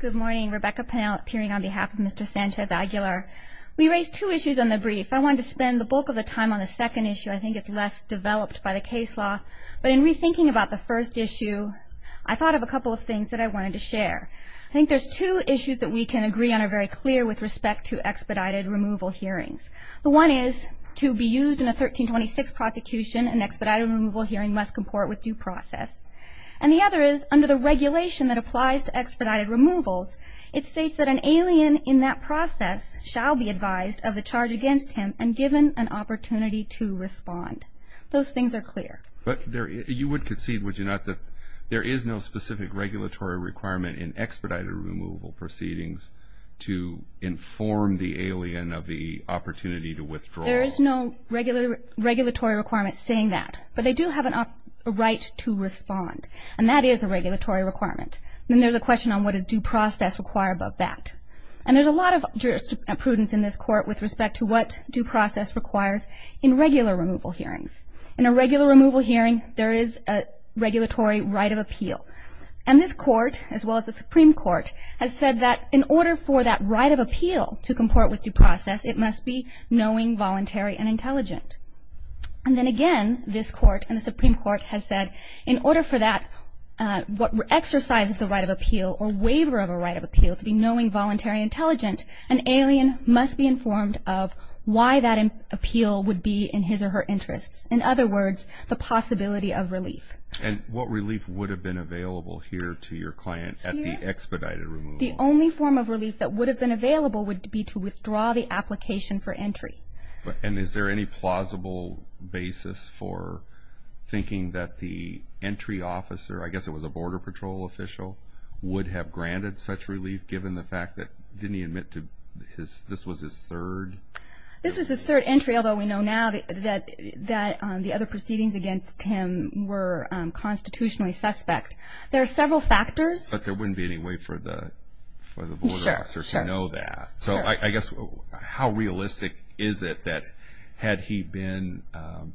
Good morning. Rebecca Pennell appearing on behalf of Mr. Sanchez-Aguilar. We raised two issues on the brief. I wanted to spend the bulk of the time on the second issue. I think it's less developed by the case law, but in rethinking about the first issue, I thought of a couple of things that I wanted to share. I think there's two issues that we can agree on are very clear with respect to expedited removal hearings. The one is to be used in a 1326 prosecution, an expedited removal hearing must comport with due process. And the other is under the regulation that applies to expedited removals, it states that an alien in that process shall be advised of the charge against him and given an opportunity to respond. Those things are clear. But you would concede, would you not, that there is no specific regulatory requirement in expedited removal proceedings to inform the alien of the opportunity to withdraw? There is no regulatory requirement saying that. But they do have a right to respond. And that is a regulatory requirement. Then there's a question on what does due process require above that. And there's a lot of jurisprudence in this court with respect to what due process requires in regular removal hearings. In a regular removal hearing, there is a regulatory right of appeal. And this court, as well as the Supreme Court, has said that in order for that right of appeal to comport with due process, it must be knowing, voluntary, and intelligent. And then again, this court and the Supreme Court has said in order for that exercise of the right of appeal or waiver of a right of appeal to be knowing, voluntary, and intelligent, an alien must be informed of why that appeal would be in his or her interests. In other words, the possibility of relief. And what relief would have been available here to your client at the expedited removal? The only form of relief that would have been available would be to withdraw the application for entry. And is there any plausible basis for thinking that the entry officer, I guess it was a Border Patrol official, would have granted such relief given the fact that didn't he admit to this was his third? This was his third entry, although we know now that the other proceedings against him were constitutionally suspect. There are several factors. But there wouldn't be any way for the border officer to know that. So I guess how realistic is it that had he been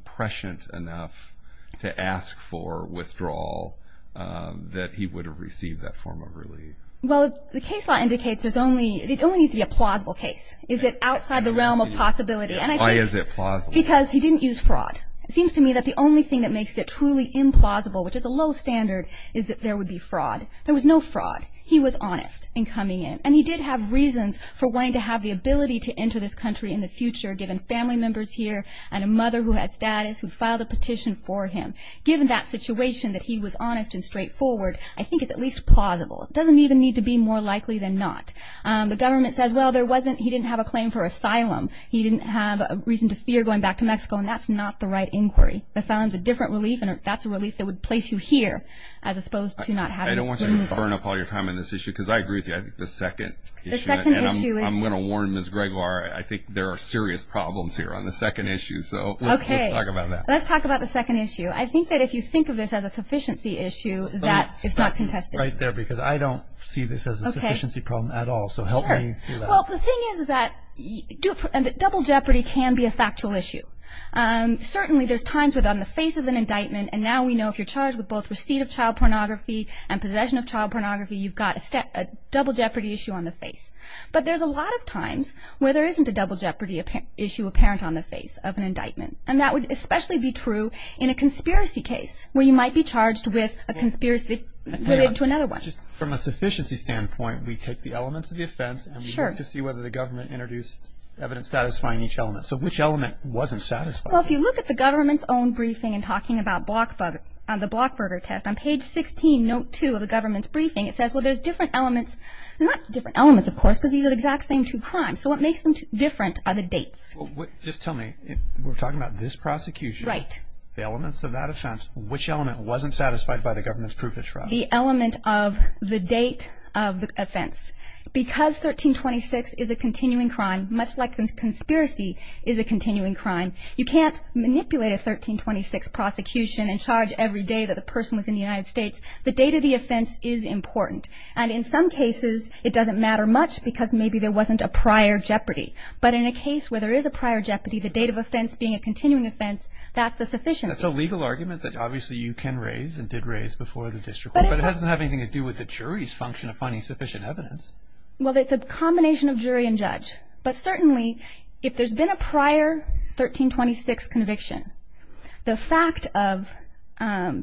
prescient enough to ask for withdrawal that he would have received that form of relief? Well, the case law indicates it only needs to be a plausible case. Is it outside the realm of possibility? Why is it plausible? Because he didn't use fraud. It seems to me that the only thing that makes it truly implausible, which is a low standard, is that there would be fraud. There was no fraud. He was honest in coming in. And he did have reasons for wanting to have the ability to enter this country in the future, given family members here and a mother who had status who filed a petition for him. Given that situation that he was honest and straightforward, I think it's at least plausible. It doesn't even need to be more likely than not. The government says, well, there wasn't he didn't have a claim for asylum. He didn't have a reason to fear going back to Mexico, and that's not the right inquiry. Asylum is a different relief, and that's a relief that would place you here as opposed to not having relief. I don't want you to burn up all your time on this issue, because I agree with you. I think the second issue, and I'm going to warn Ms. Gregoire, I think there are serious problems here on the second issue. So let's talk about that. Okay. Let's talk about the second issue. I think that if you think of this as a sufficiency issue, that is not contested. Let me stop you right there, because I don't see this as a sufficiency problem at all. So help me through that. Well, the thing is that double jeopardy can be a factual issue. Certainly there's times when on the face of an indictment, and now we know if you're charged with both receipt of child pornography and possession of child pornography, you've got a double jeopardy issue on the face. But there's a lot of times where there isn't a double jeopardy issue apparent on the face of an indictment, and that would especially be true in a conspiracy case where you might be charged with a conspiracy related to another one. Just from a sufficiency standpoint, we take the elements of the offense. Sure. And we look to see whether the government introduced evidence satisfying each element. So which element wasn't satisfied? Well, if you look at the government's own briefing and talking about the Blockburger test, on page 16, note 2 of the government's briefing, it says, well, there's different elements. There's not different elements, of course, because these are the exact same two crimes. So what makes them different are the dates. Just tell me, we're talking about this prosecution. Right. The elements of that offense, which element wasn't satisfied by the government's proof of trial? The element of the date of the offense. Because 1326 is a continuing crime, much like a conspiracy is a continuing crime, you can't manipulate a 1326 prosecution and charge every day that the person was in the United States. The date of the offense is important. And in some cases, it doesn't matter much because maybe there wasn't a prior jeopardy. But in a case where there is a prior jeopardy, the date of offense being a continuing offense, that's the sufficiency. That's a legal argument that obviously you can raise and did raise before the district court, but it doesn't have anything to do with the jury's function of finding sufficient evidence. Well, it's a combination of jury and judge. But certainly, if there's been a prior 1326 conviction, the fact of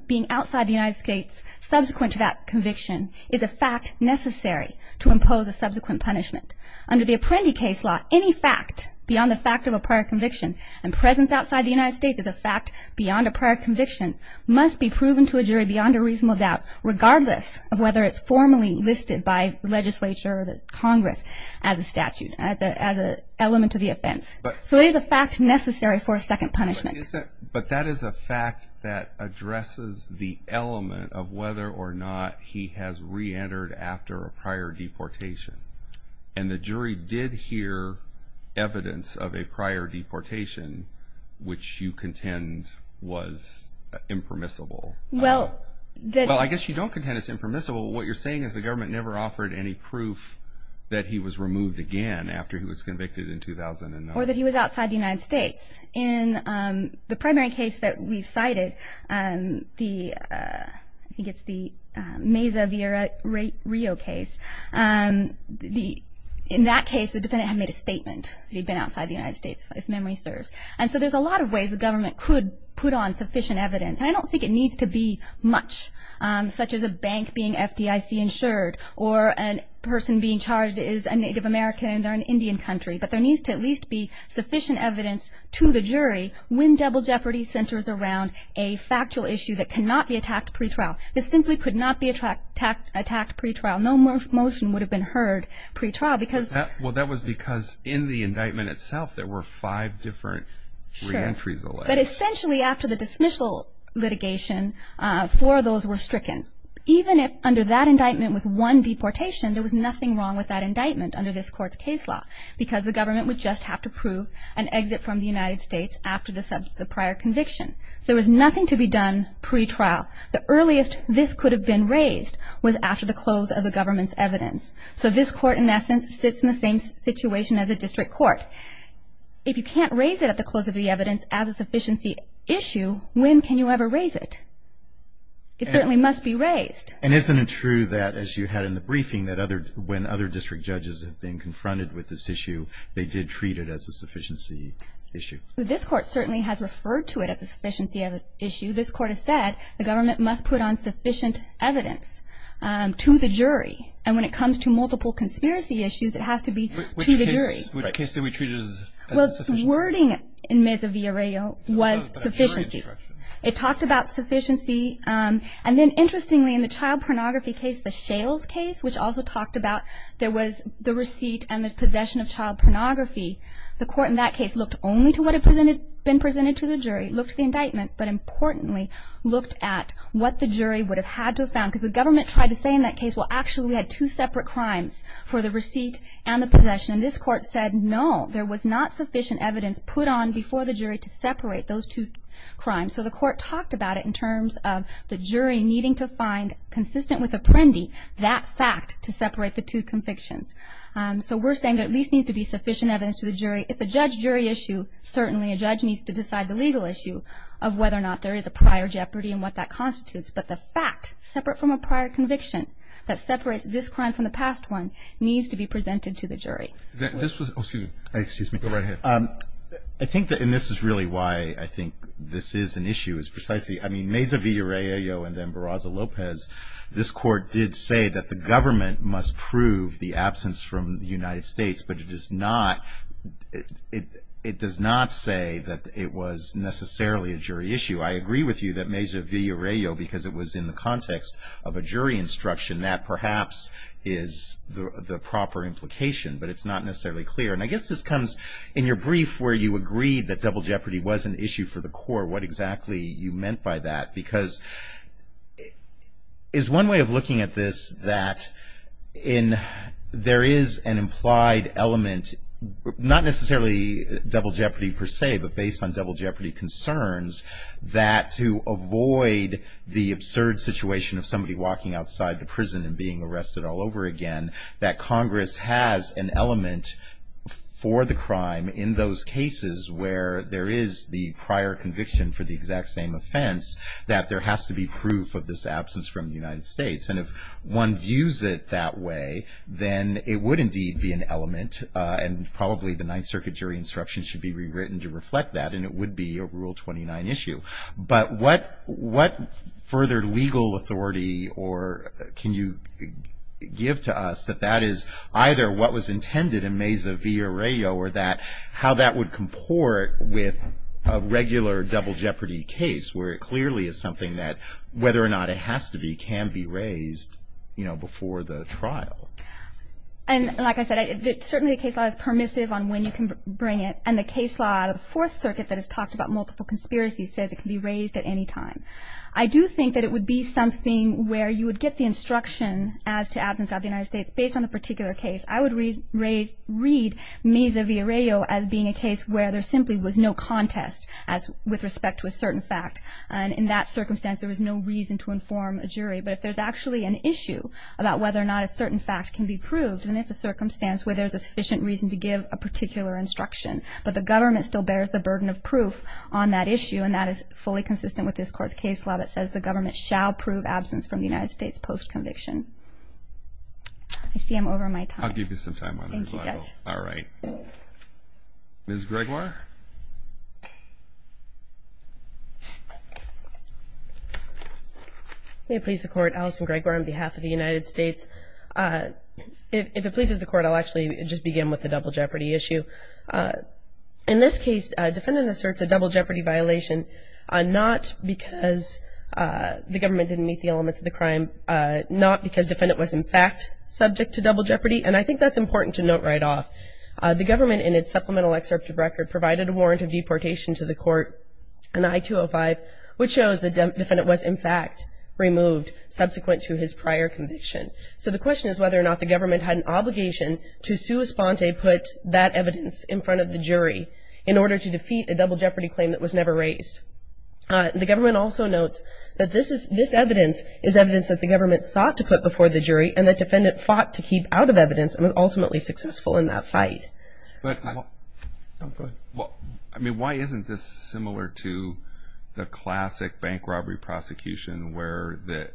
being outside the United States subsequent to that conviction is a fact necessary to impose a subsequent punishment. Under the Apprendi case law, any fact beyond the fact of a prior conviction and presence outside the United States as a fact beyond a prior conviction must be proven to a jury beyond a reasonable doubt, regardless of whether it's formally listed by the legislature or the Congress as a statute, as an element to the offense. So it is a fact necessary for a second punishment. But that is a fact that addresses the element of whether or not he has reentered after a prior deportation. And the jury did hear evidence of a prior deportation, which you contend was impermissible. Well, I guess you don't contend it's impermissible. What you're saying is the government never offered any proof that he was removed again after he was convicted in 2009. Or that he was outside the United States. In the primary case that we've cited, I think it's the Meza v. Rio case. In that case, the defendant had made a statement that he'd been outside the United States, if memory serves. And so there's a lot of ways the government could put on sufficient evidence. And I don't think it needs to be much, such as a bank being FDIC-insured or a person being charged as a Native American or an Indian country. But there needs to at least be sufficient evidence to the jury when double jeopardy centers around a factual issue that cannot be attacked pre-trial. This simply could not be attacked pre-trial. No motion would have been heard pre-trial. Well, that was because in the indictment itself there were five different reentries. Sure. But essentially after the dismissal litigation, four of those were stricken. Even if under that indictment with one deportation, there was nothing wrong with that indictment under this Court's case law. Because the government would just have to prove an exit from the United States after the prior conviction. So there was nothing to be done pre-trial. The earliest this could have been raised was after the close of the government's evidence. So this Court, in essence, sits in the same situation as a district court. If you can't raise it at the close of the evidence as a sufficiency issue, when can you ever raise it? It certainly must be raised. And isn't it true that, as you had in the briefing, that when other district judges have been confronted with this issue, they did treat it as a sufficiency issue? This Court certainly has referred to it as a sufficiency issue. This Court has said the government must put on sufficient evidence to the jury. And when it comes to multiple conspiracy issues, it has to be to the jury. Which case did we treat it as a sufficiency issue? Well, the wording in Meza v. Arreo was sufficiency. It talked about sufficiency. And then, interestingly, in the child pornography case, the Shales case, which also talked about there was the receipt and the possession of child pornography, the Court in that case looked only to what had been presented to the jury, looked at the indictment, but, importantly, looked at what the jury would have had to have found. Because the government tried to say in that case, well, actually, we had two separate crimes, for the receipt and the possession. And this Court said, no, there was not sufficient evidence put on before the jury to separate those two crimes. So the Court talked about it in terms of the jury needing to find, consistent with Apprendi, that fact to separate the two convictions. So we're saying there at least needs to be sufficient evidence to the jury. It's a judge-jury issue. Certainly a judge needs to decide the legal issue of whether or not there is a prior jeopardy and what that constitutes. But the fact, separate from a prior conviction, that separates this crime from the past one, needs to be presented to the jury. This was, excuse me. Go right ahead. I think that, and this is really why I think this is an issue, is precisely, I mean, Meza-Villarejo and then Barraza-Lopez, this Court did say that the government must prove the absence from the United States. But it does not say that it was necessarily a jury issue. I agree with you that Meza-Villarejo, because it was in the context of a jury instruction, that perhaps is the proper implication. But it's not necessarily clear. And I guess this comes in your brief where you agreed that double jeopardy was an issue for the court. What exactly you meant by that? Because is one way of looking at this that there is an implied element, not necessarily double jeopardy per se, but based on double jeopardy concerns, that to avoid the absurd situation of somebody walking outside the prison and being arrested all over again, that Congress has an element for the crime in those cases where there is the prior conviction for the exact same offense, that there has to be proof of this absence from the United States. And if one views it that way, then it would indeed be an element, and probably the Ninth Circuit jury instruction should be rewritten to reflect that, and it would be a Rule 29 issue. But what further legal authority can you give to us that that is either what was intended in Meza-Villarejo or how that would comport with a regular double jeopardy case where it clearly is something that, whether or not it has to be, can be raised, you know, before the trial? And like I said, certainly the case law is permissive on when you can bring it. And the case law of the Fourth Circuit that has talked about multiple conspiracies says it can be raised at any time. I do think that it would be something where you would get the instruction as to absence of the United States based on the particular case. I would read Meza-Villarejo as being a case where there simply was no contest with respect to a certain fact, and in that circumstance there was no reason to inform a jury. But if there's actually an issue about whether or not a certain fact can be proved, then it's a circumstance where there's sufficient reason to give a particular instruction. But the government still bears the burden of proof on that issue, and that is fully consistent with this Court's case law that says the government shall prove absence from the United States post-conviction. I see I'm over my time. I'll give you some time on the rebuttal. Thank you, Judge. All right. Ms. Gregoire? May it please the Court, Allison Gregoire on behalf of the United States. If it pleases the Court, I'll actually just begin with the double jeopardy issue. In this case, defendant asserts a double jeopardy violation not because the government didn't meet the elements of the crime, not because defendant was in fact subject to double jeopardy, and I think that's important to note right off. The government in its supplemental excerpt of record provided a warrant of deportation to the Court, an I-205, which shows the defendant was in fact removed subsequent to his prior conviction. So the question is whether or not the government had an obligation to sua sponte put that evidence in front of the jury in order to defeat a double jeopardy claim that was never raised. The government also notes that this evidence is evidence that the government sought to put before the jury and the defendant fought to keep out of evidence and was ultimately successful in that fight. I mean, why isn't this similar to the classic bank robbery prosecution where the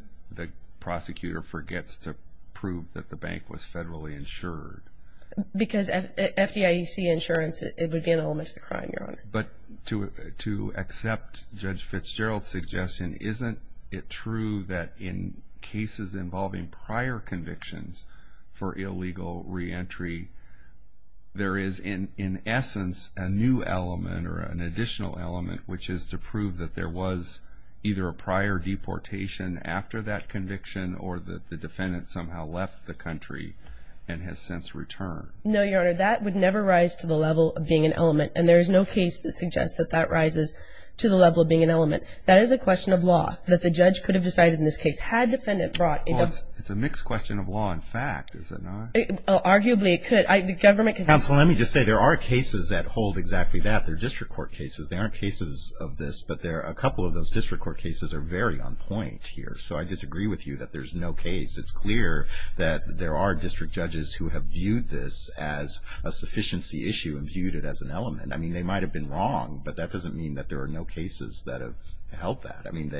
prosecutor forgets to prove that the bank was federally insured? Because at FDIC insurance, it would be an element of the crime, Your Honor. But to accept Judge Fitzgerald's suggestion, isn't it true that in cases involving prior convictions for illegal reentry, there is in essence a new element or an additional element, which is to prove that there was either a prior deportation after that conviction or that the defendant somehow left the country and has since returned? No, Your Honor. That would never rise to the level of being an element. And there is no case that suggests that that rises to the level of being an element. That is a question of law that the judge could have decided in this case had the defendant brought in. Well, it's a mixed question of law and fact, is it not? Arguably, it could. The government could... Counsel, let me just say there are cases that hold exactly that. They're district court cases. There aren't cases of this, but a couple of those district court cases are very on point here. So I disagree with you that there's no case. It's clear that there are district judges who have viewed this as a sufficiency issue and viewed it as an element. I mean, they might have been wrong, but that doesn't mean that there are no cases that have held that. I mean,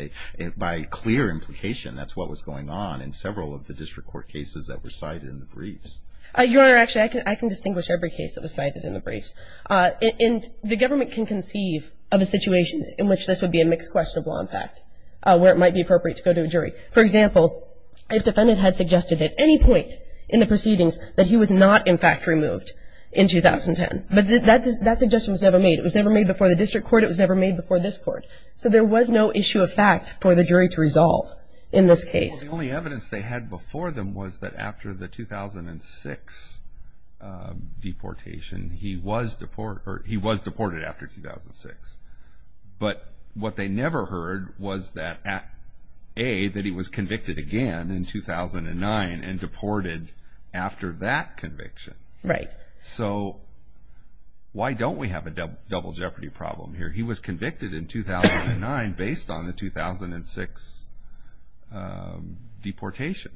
by clear implication, that's what was going on in several of the district court cases that were cited in the briefs. Your Honor, actually, I can distinguish every case that was cited in the briefs. The government can conceive of a situation in which this would be a mixed question of law and fact, where it might be appropriate to go to a jury. For example, if the defendant had suggested at any point in the proceedings that he was not, in fact, removed in 2010, but that suggestion was never made. It was never made before the district court. It was never made before this court. So there was no issue of fact for the jury to resolve in this case. Well, the only evidence they had before them was that after the 2006 deportation, he was deported after 2006. But what they never heard was that, A, that he was convicted again in 2009 and deported after that conviction. Right. So why don't we have a double jeopardy problem here? He was convicted in 2009 based on the 2006 deportation.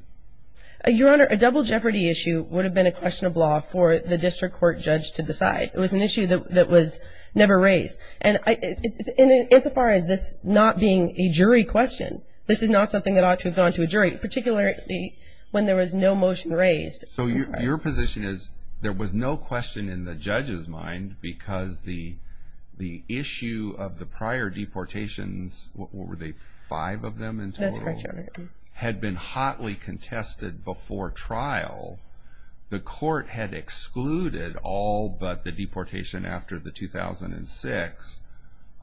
Your Honor, a double jeopardy issue would have been a question of law for the district court judge to decide. It was an issue that was never raised. And insofar as this not being a jury question, this is not something that ought to have gone to a jury, particularly when there was no motion raised. So your position is there was no question in the judge's mind because the issue of the prior deportations, what were they, five of them in total? That's correct, Your Honor. Had been hotly contested before trial. The court had excluded all but the deportation after the 2006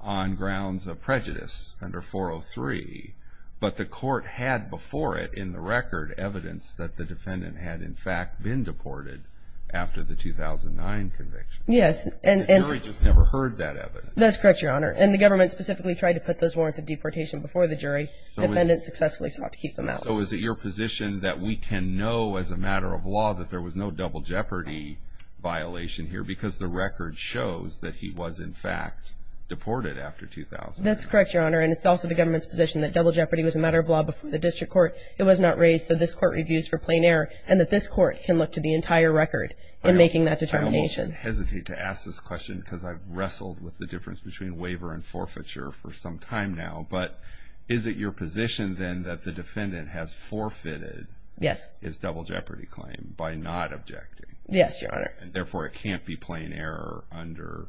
on grounds of prejudice under 403. But the court had before it in the record evidence that the defendant had, in fact, been deported after the 2009 conviction. Yes. The jury just never heard that evidence. That's correct, Your Honor. And the government specifically tried to put those warrants of deportation before the jury. Defendants successfully sought to keep them out. So is it your position that we can know as a matter of law that there was no double jeopardy violation here because the record shows that he was, in fact, deported after 2009? That's correct, Your Honor. And it's also the government's position that double jeopardy was a matter of law before the district court. It was not raised. So this court reviews for plain error and that this court can look to the entire record in making that determination. I almost hesitate to ask this question because I've wrestled with the difference between waiver and forfeiture for some time now. But is it your position then that the defendant has forfeited his double jeopardy claim by not objecting? Yes, Your Honor. Therefore, it can't be plain error under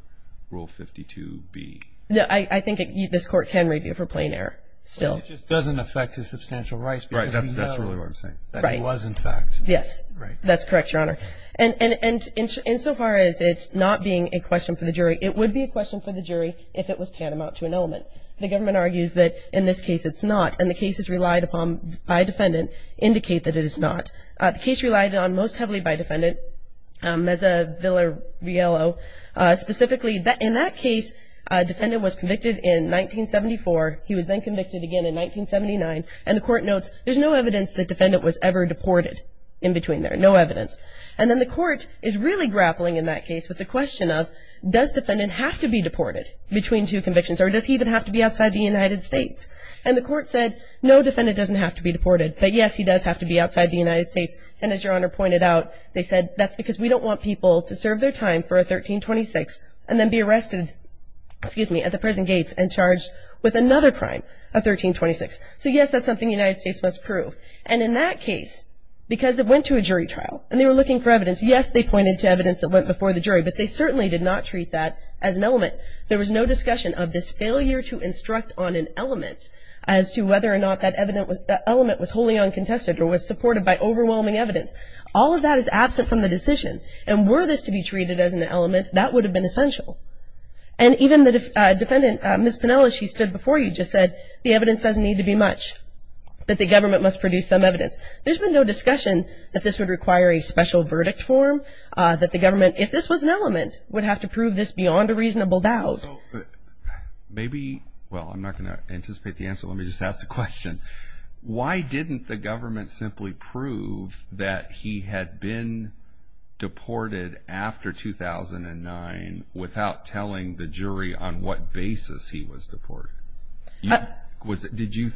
Rule 52B. I think this court can review for plain error still. It just doesn't affect his substantial rights because we know that he was, in fact. Yes, that's correct, Your Honor. And insofar as it's not being a question for the jury, it would be a question for the jury if it was tantamount to an element. The government argues that in this case it's not, and the cases relied upon by a defendant indicate that it is not. The case relied on most heavily by a defendant, Meza Villariello, specifically in that case a defendant was convicted in 1974. He was then convicted again in 1979. And the court notes there's no evidence the defendant was ever deported in between there. No evidence. And then the court is really grappling in that case with the question of does defendant have to be deported between two convictions or does he even have to be outside the United States? And the court said no, defendant doesn't have to be deported. But, yes, he does have to be outside the United States. And as Your Honor pointed out, they said that's because we don't want people to serve their time for a 1326 and then be arrested, excuse me, at the prison gates and charged with another crime, a 1326. So, yes, that's something the United States must prove. And in that case, because it went to a jury trial and they were looking for evidence, yes, they pointed to evidence that went before the jury, but they certainly did not treat that as an element. There was no discussion of this failure to instruct on an element as to whether or not that element was wholly uncontested or was supported by overwhelming evidence. All of that is absent from the decision. And were this to be treated as an element, that would have been essential. And even the defendant, Ms. Pinella, she stood before you, just said the evidence doesn't need to be much, but the government must produce some evidence. There's been no discussion that this would require a special verdict form, that the government, if this was an element, would have to prove this beyond a reasonable doubt. So maybe, well, I'm not going to anticipate the answer. Let me just ask the question. Why didn't the government simply prove that he had been deported after 2009 without telling the jury on what basis he was deported? Did you,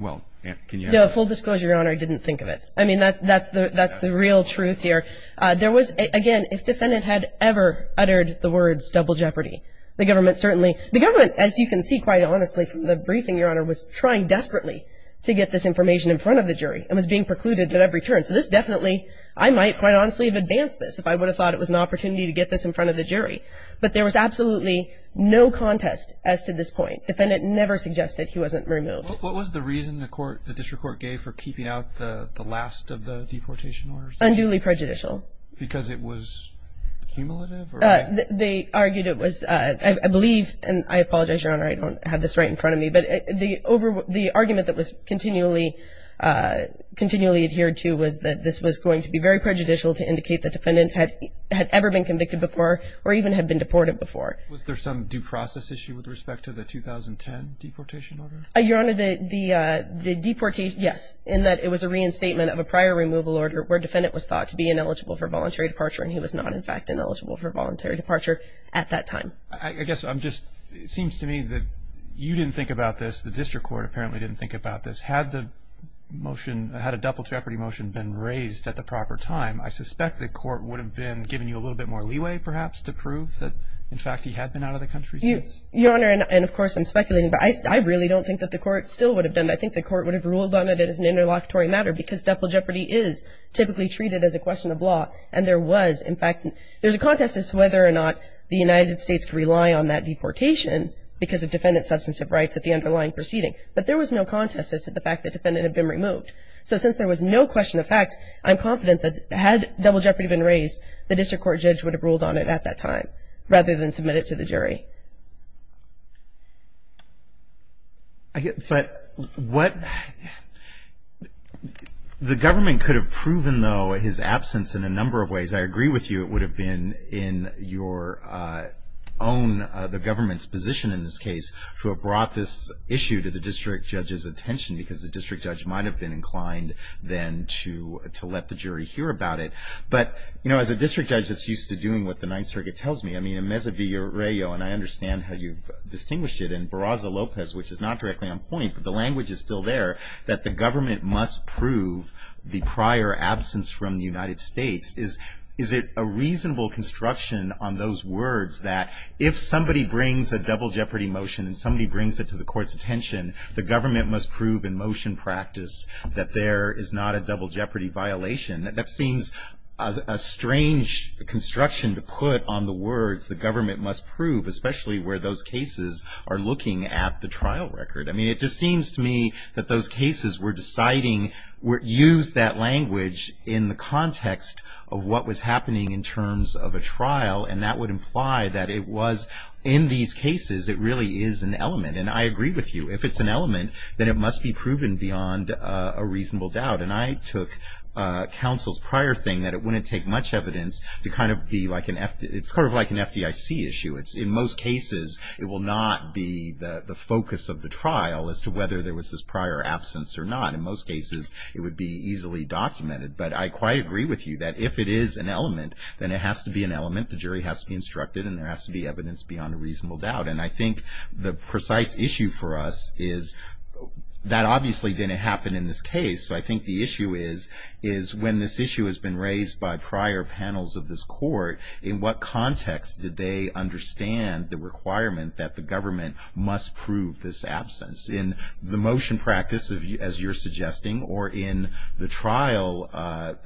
well, can you answer that? Full disclosure, Your Honor, I didn't think of it. I mean, that's the real truth here. There was, again, if defendant had ever uttered the words double jeopardy, the government certainly, the government, as you can see, quite honestly, from the briefing, Your Honor, was trying desperately to get this information in front of the jury and was being precluded at every turn. So this definitely, I might quite honestly have advanced this if I would have thought it was an opportunity to get this in front of the jury. But there was absolutely no contest as to this point. Defendant never suggested he wasn't removed. What was the reason the court, the district court gave for keeping out the last of the deportation orders? Unduly prejudicial. Because it was cumulative? They argued it was, I believe, and I apologize, Your Honor, I don't have this right in front of me, but the argument that was continually adhered to was that this was going to be very prejudicial to indicate the defendant had ever been convicted before or even had been deported before. Was there some due process issue with respect to the 2010 deportation order? Your Honor, the deportation, yes, in that it was a reinstatement of a prior removal order where defendant was thought to be ineligible for voluntary departure and he was not in fact ineligible for voluntary departure at that time. I guess I'm just, it seems to me that you didn't think about this, the district court apparently didn't think about this. Had the motion, had a double jeopardy motion been raised at the proper time, I suspect the court would have been giving you a little bit more leeway perhaps to prove that in fact he had been out of the country since? Your Honor, and of course I'm speculating, but I really don't think that the court still would have done that. I think the court would have ruled on it as an interlocutory matter because double jeopardy is typically treated as a question of law and there was in fact, there's a contest as to whether or not the United States could rely on that deportation because of defendant's substantive rights at the underlying proceeding. But there was no contest as to the fact that the defendant had been removed. So since there was no question of fact, I'm confident that had double jeopardy been raised, the district court judge would have ruled on it at that time rather than submit it to the jury. But what, the government could have proven though his absence in a number of ways. I agree with you it would have been in your own, the government's position in this case, to have brought this issue to the district judge's attention because the district judge might have been inclined then to let the jury hear about it. But, you know, as a district judge that's used to doing what the Ninth Circuit tells me, I mean in Mesa Viejo, and I understand how you've distinguished it, in Barraza Lopez, which is not directly on point, but the language is still there, that the government must prove the prior absence from the United States. Is it a reasonable construction on those words that if somebody brings a double jeopardy motion and somebody brings it to the court's attention, the government must prove in motion practice that there is not a double jeopardy violation? That seems a strange construction to put on the words, the government must prove, especially where those cases are looking at the trial record. I mean it just seems to me that those cases were deciding, used that language in the context of what was happening in terms of a trial, and that would imply that it was in these cases it really is an element. And I agree with you. If it's an element, then it must be proven beyond a reasonable doubt. And I took counsel's prior thing that it wouldn't take much evidence to kind of be like an, it's sort of like an FDIC issue. In most cases, it will not be the focus of the trial as to whether there was this prior absence or not. In most cases, it would be easily documented. But I quite agree with you that if it is an element, then it has to be an element. The jury has to be instructed and there has to be evidence beyond a reasonable doubt. And I think the precise issue for us is that obviously didn't happen in this case. So I think the issue is when this issue has been raised by prior panels of this court, in what context did they understand the requirement that the government must prove this absence? In the motion practice, as you're suggesting, or in the trial,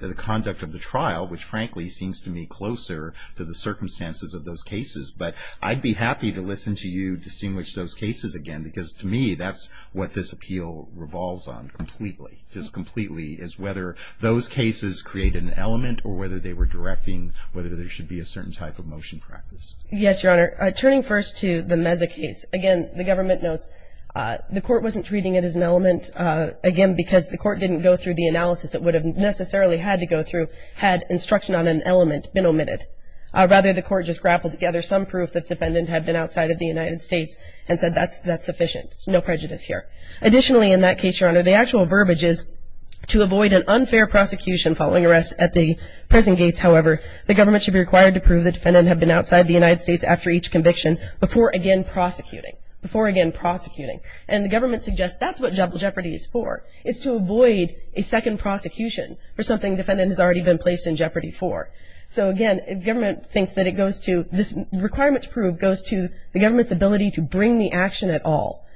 the conduct of the trial, which frankly seems to me closer to the circumstances of those cases. But I'd be happy to listen to you distinguish those cases again, because to me that's what this appeal revolves on completely, just completely, is whether those cases created an element or whether they were directing whether there should be a certain type of motion practice. Yes, Your Honor. Turning first to the Meza case. Again, the government notes the court wasn't treating it as an element, again, because the court didn't go through the analysis it would have necessarily had to go through had instruction on an element been omitted. Rather, the court just grappled together some proof the defendant had been outside of the United States and said that's sufficient, no prejudice here. Additionally, in that case, Your Honor, the actual verbiage is to avoid an unfair prosecution following arrest at the prison gates, however, the government should be required to prove the defendant had been outside the United States after each conviction before again prosecuting, before again prosecuting. And the government suggests that's what jeopardy is for, it's to avoid a second prosecution for something the defendant has already been placed in jeopardy for. So, again, the government thinks that it goes to, this requirement to prove goes to the government's ability to bring the action at all,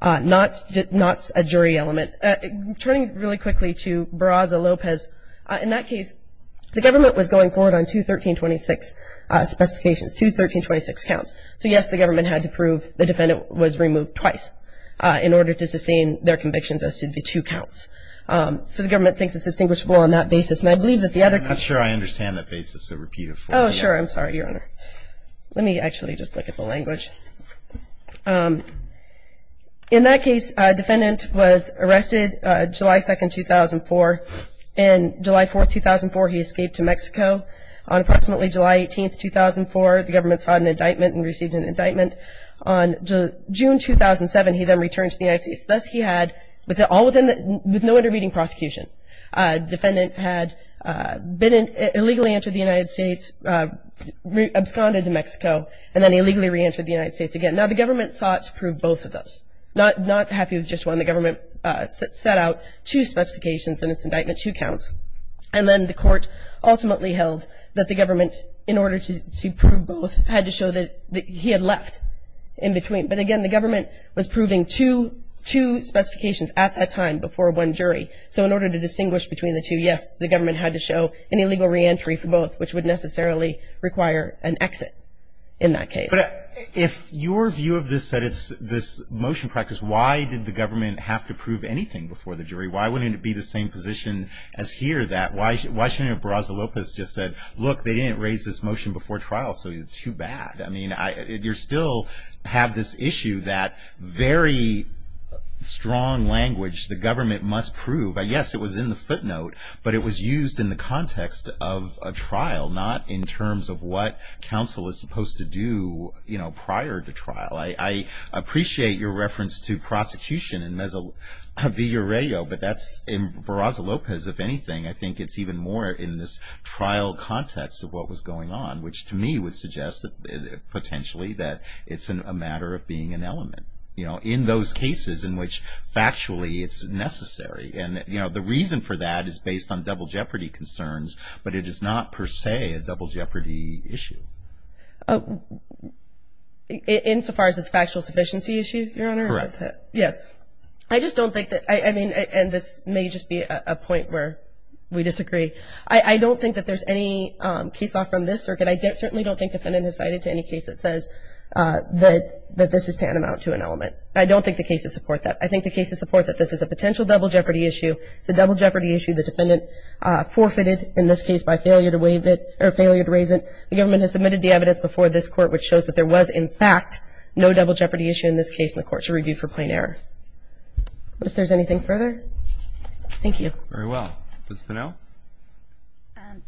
not a jury element. Turning really quickly to Barraza-Lopez, in that case the government was going forward on two 1326 specifications, two 1326 counts. So, yes, the government had to prove the defendant was removed twice in order to sustain their convictions as to the two counts. So the government thinks it's distinguishable on that basis. And I believe that the other. I'm not sure I understand that basis, so repeat it for me. Oh, sure, I'm sorry, Your Honor. Let me actually just look at the language. In that case, a defendant was arrested July 2nd, 2004, and July 4th, 2004, he escaped to Mexico. On approximately July 18th, 2004, the government sought an indictment and received an indictment. On June 2007, he then returned to the United States. Thus, he had, with no intervening prosecution, the defendant had illegally entered the United States, absconded to Mexico, and then illegally reentered the United States again. Now, the government sought to prove both of those. Not happy with just one. The government set out two specifications in its indictment, two counts. And then the court ultimately held that the government, in order to prove both, had to show that he had left in between. But, again, the government was proving two specifications at that time before one jury. So in order to distinguish between the two, yes, the government had to show an illegal reentry for both, which would necessarily require an exit in that case. But if your view of this said it's this motion practice, why did the government have to prove anything before the jury? Why wouldn't it be the same position as here that why shouldn't Barraza-Lopez just said, look, they didn't raise this motion before trial, so it's too bad? I mean, you still have this issue that very strong language the government must prove. Yes, it was in the footnote, but it was used in the context of a trial, not in terms of what counsel is supposed to do, you know, prior to trial. I appreciate your reference to prosecution in Vigorello, but that's in Barraza-Lopez, if anything. I think it's even more in this trial context of what was going on, which to me would suggest potentially that it's a matter of being an element, you know, in those cases in which factually it's necessary. And, you know, the reason for that is based on double jeopardy concerns, but it is not per se a double jeopardy issue. Insofar as it's a factual sufficiency issue, Your Honor? Correct. Yes. I just don't think that, I mean, and this may just be a point where we disagree. I don't think that there's any case law from this circuit. I certainly don't think defendant has cited to any case that says that this is tantamount to an element. I don't think the cases support that. I think the cases support that this is a potential double jeopardy issue. It's a double jeopardy issue. The defendant forfeited in this case by failure to raise it. The government has submitted the evidence before this Court, which shows that there was in fact no double jeopardy issue in this case in the Court's review for plain error. If there's anything further, thank you. Very well. Ms. Pinnell?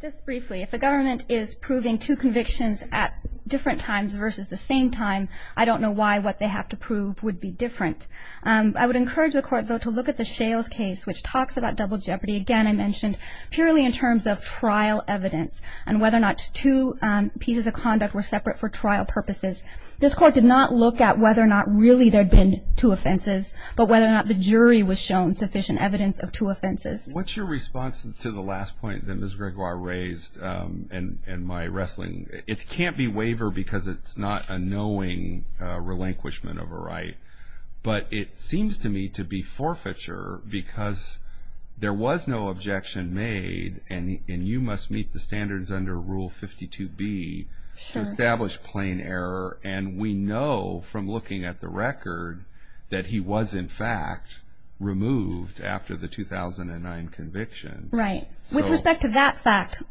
Just briefly, if the government is proving two convictions at different times versus the same time, I don't know why what they have to prove would be different. I would encourage the Court, though, to look at the Shales case, which talks about double jeopardy. Again, I mentioned purely in terms of trial evidence and whether or not two pieces of conduct were separate for trial purposes. This Court did not look at whether or not really there had been two offenses, but whether or not the jury was shown sufficient evidence of two offenses. What's your response to the last point that Ms. Gregoire raised in my wrestling? It can't be waiver because it's not a knowing relinquishment of a right. But it seems to me to be forfeiture because there was no objection made, and you must meet the standards under Rule 52B to establish plain error. And we know from looking at the record that he was in fact removed after the 2009 convictions. Right. With respect to that fact,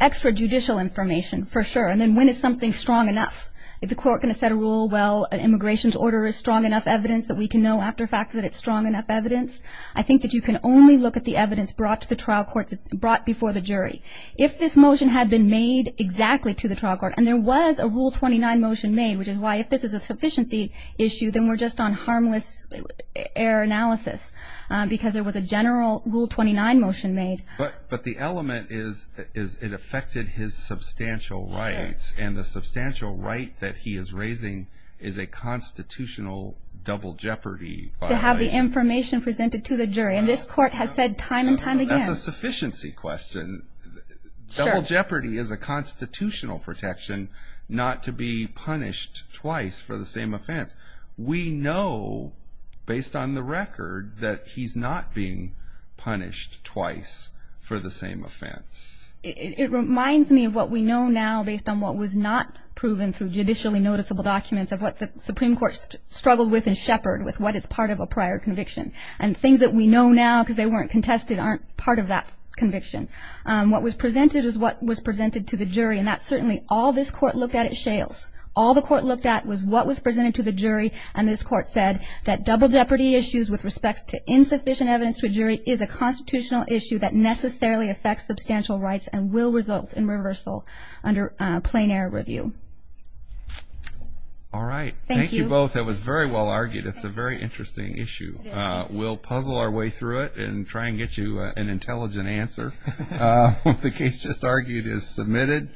extra judicial information for sure. And then when is something strong enough? If the Court can set a rule, well, an immigration order is strong enough evidence that we can know after fact that it's strong enough evidence, I think that you can only look at the evidence brought to the trial court, brought before the jury. If this motion had been made exactly to the trial court, and there was a Rule 29 motion made, which is why if this is a sufficiency issue, then we're just on harmless error analysis because there was a general Rule 29 motion made. But the element is it affected his substantial rights, and the substantial right that he is raising is a constitutional double jeopardy violation. To have the information presented to the jury. And this Court has said time and time again. That's a sufficiency question. Sure. Double jeopardy is a constitutional protection not to be punished twice for the same offense. We know based on the record that he's not being punished twice for the same offense. It reminds me of what we know now based on what was not proven through judicially noticeable documents of what the Supreme Court struggled with and shepherded with what is part of a prior conviction. And things that we know now because they weren't contested aren't part of that conviction. What was presented is what was presented to the jury, and that's certainly all this Court looked at at Shales. All the Court looked at was what was presented to the jury, and this Court said that double jeopardy issues with respects to insufficient evidence to a jury is a constitutional issue that necessarily affects substantial rights and will result in reversal under plain-air review. All right. Thank you. Thank you both. That was very well argued. It's a very interesting issue. We'll puzzle our way through it and try and get you an intelligent answer. The case just argued is submitted.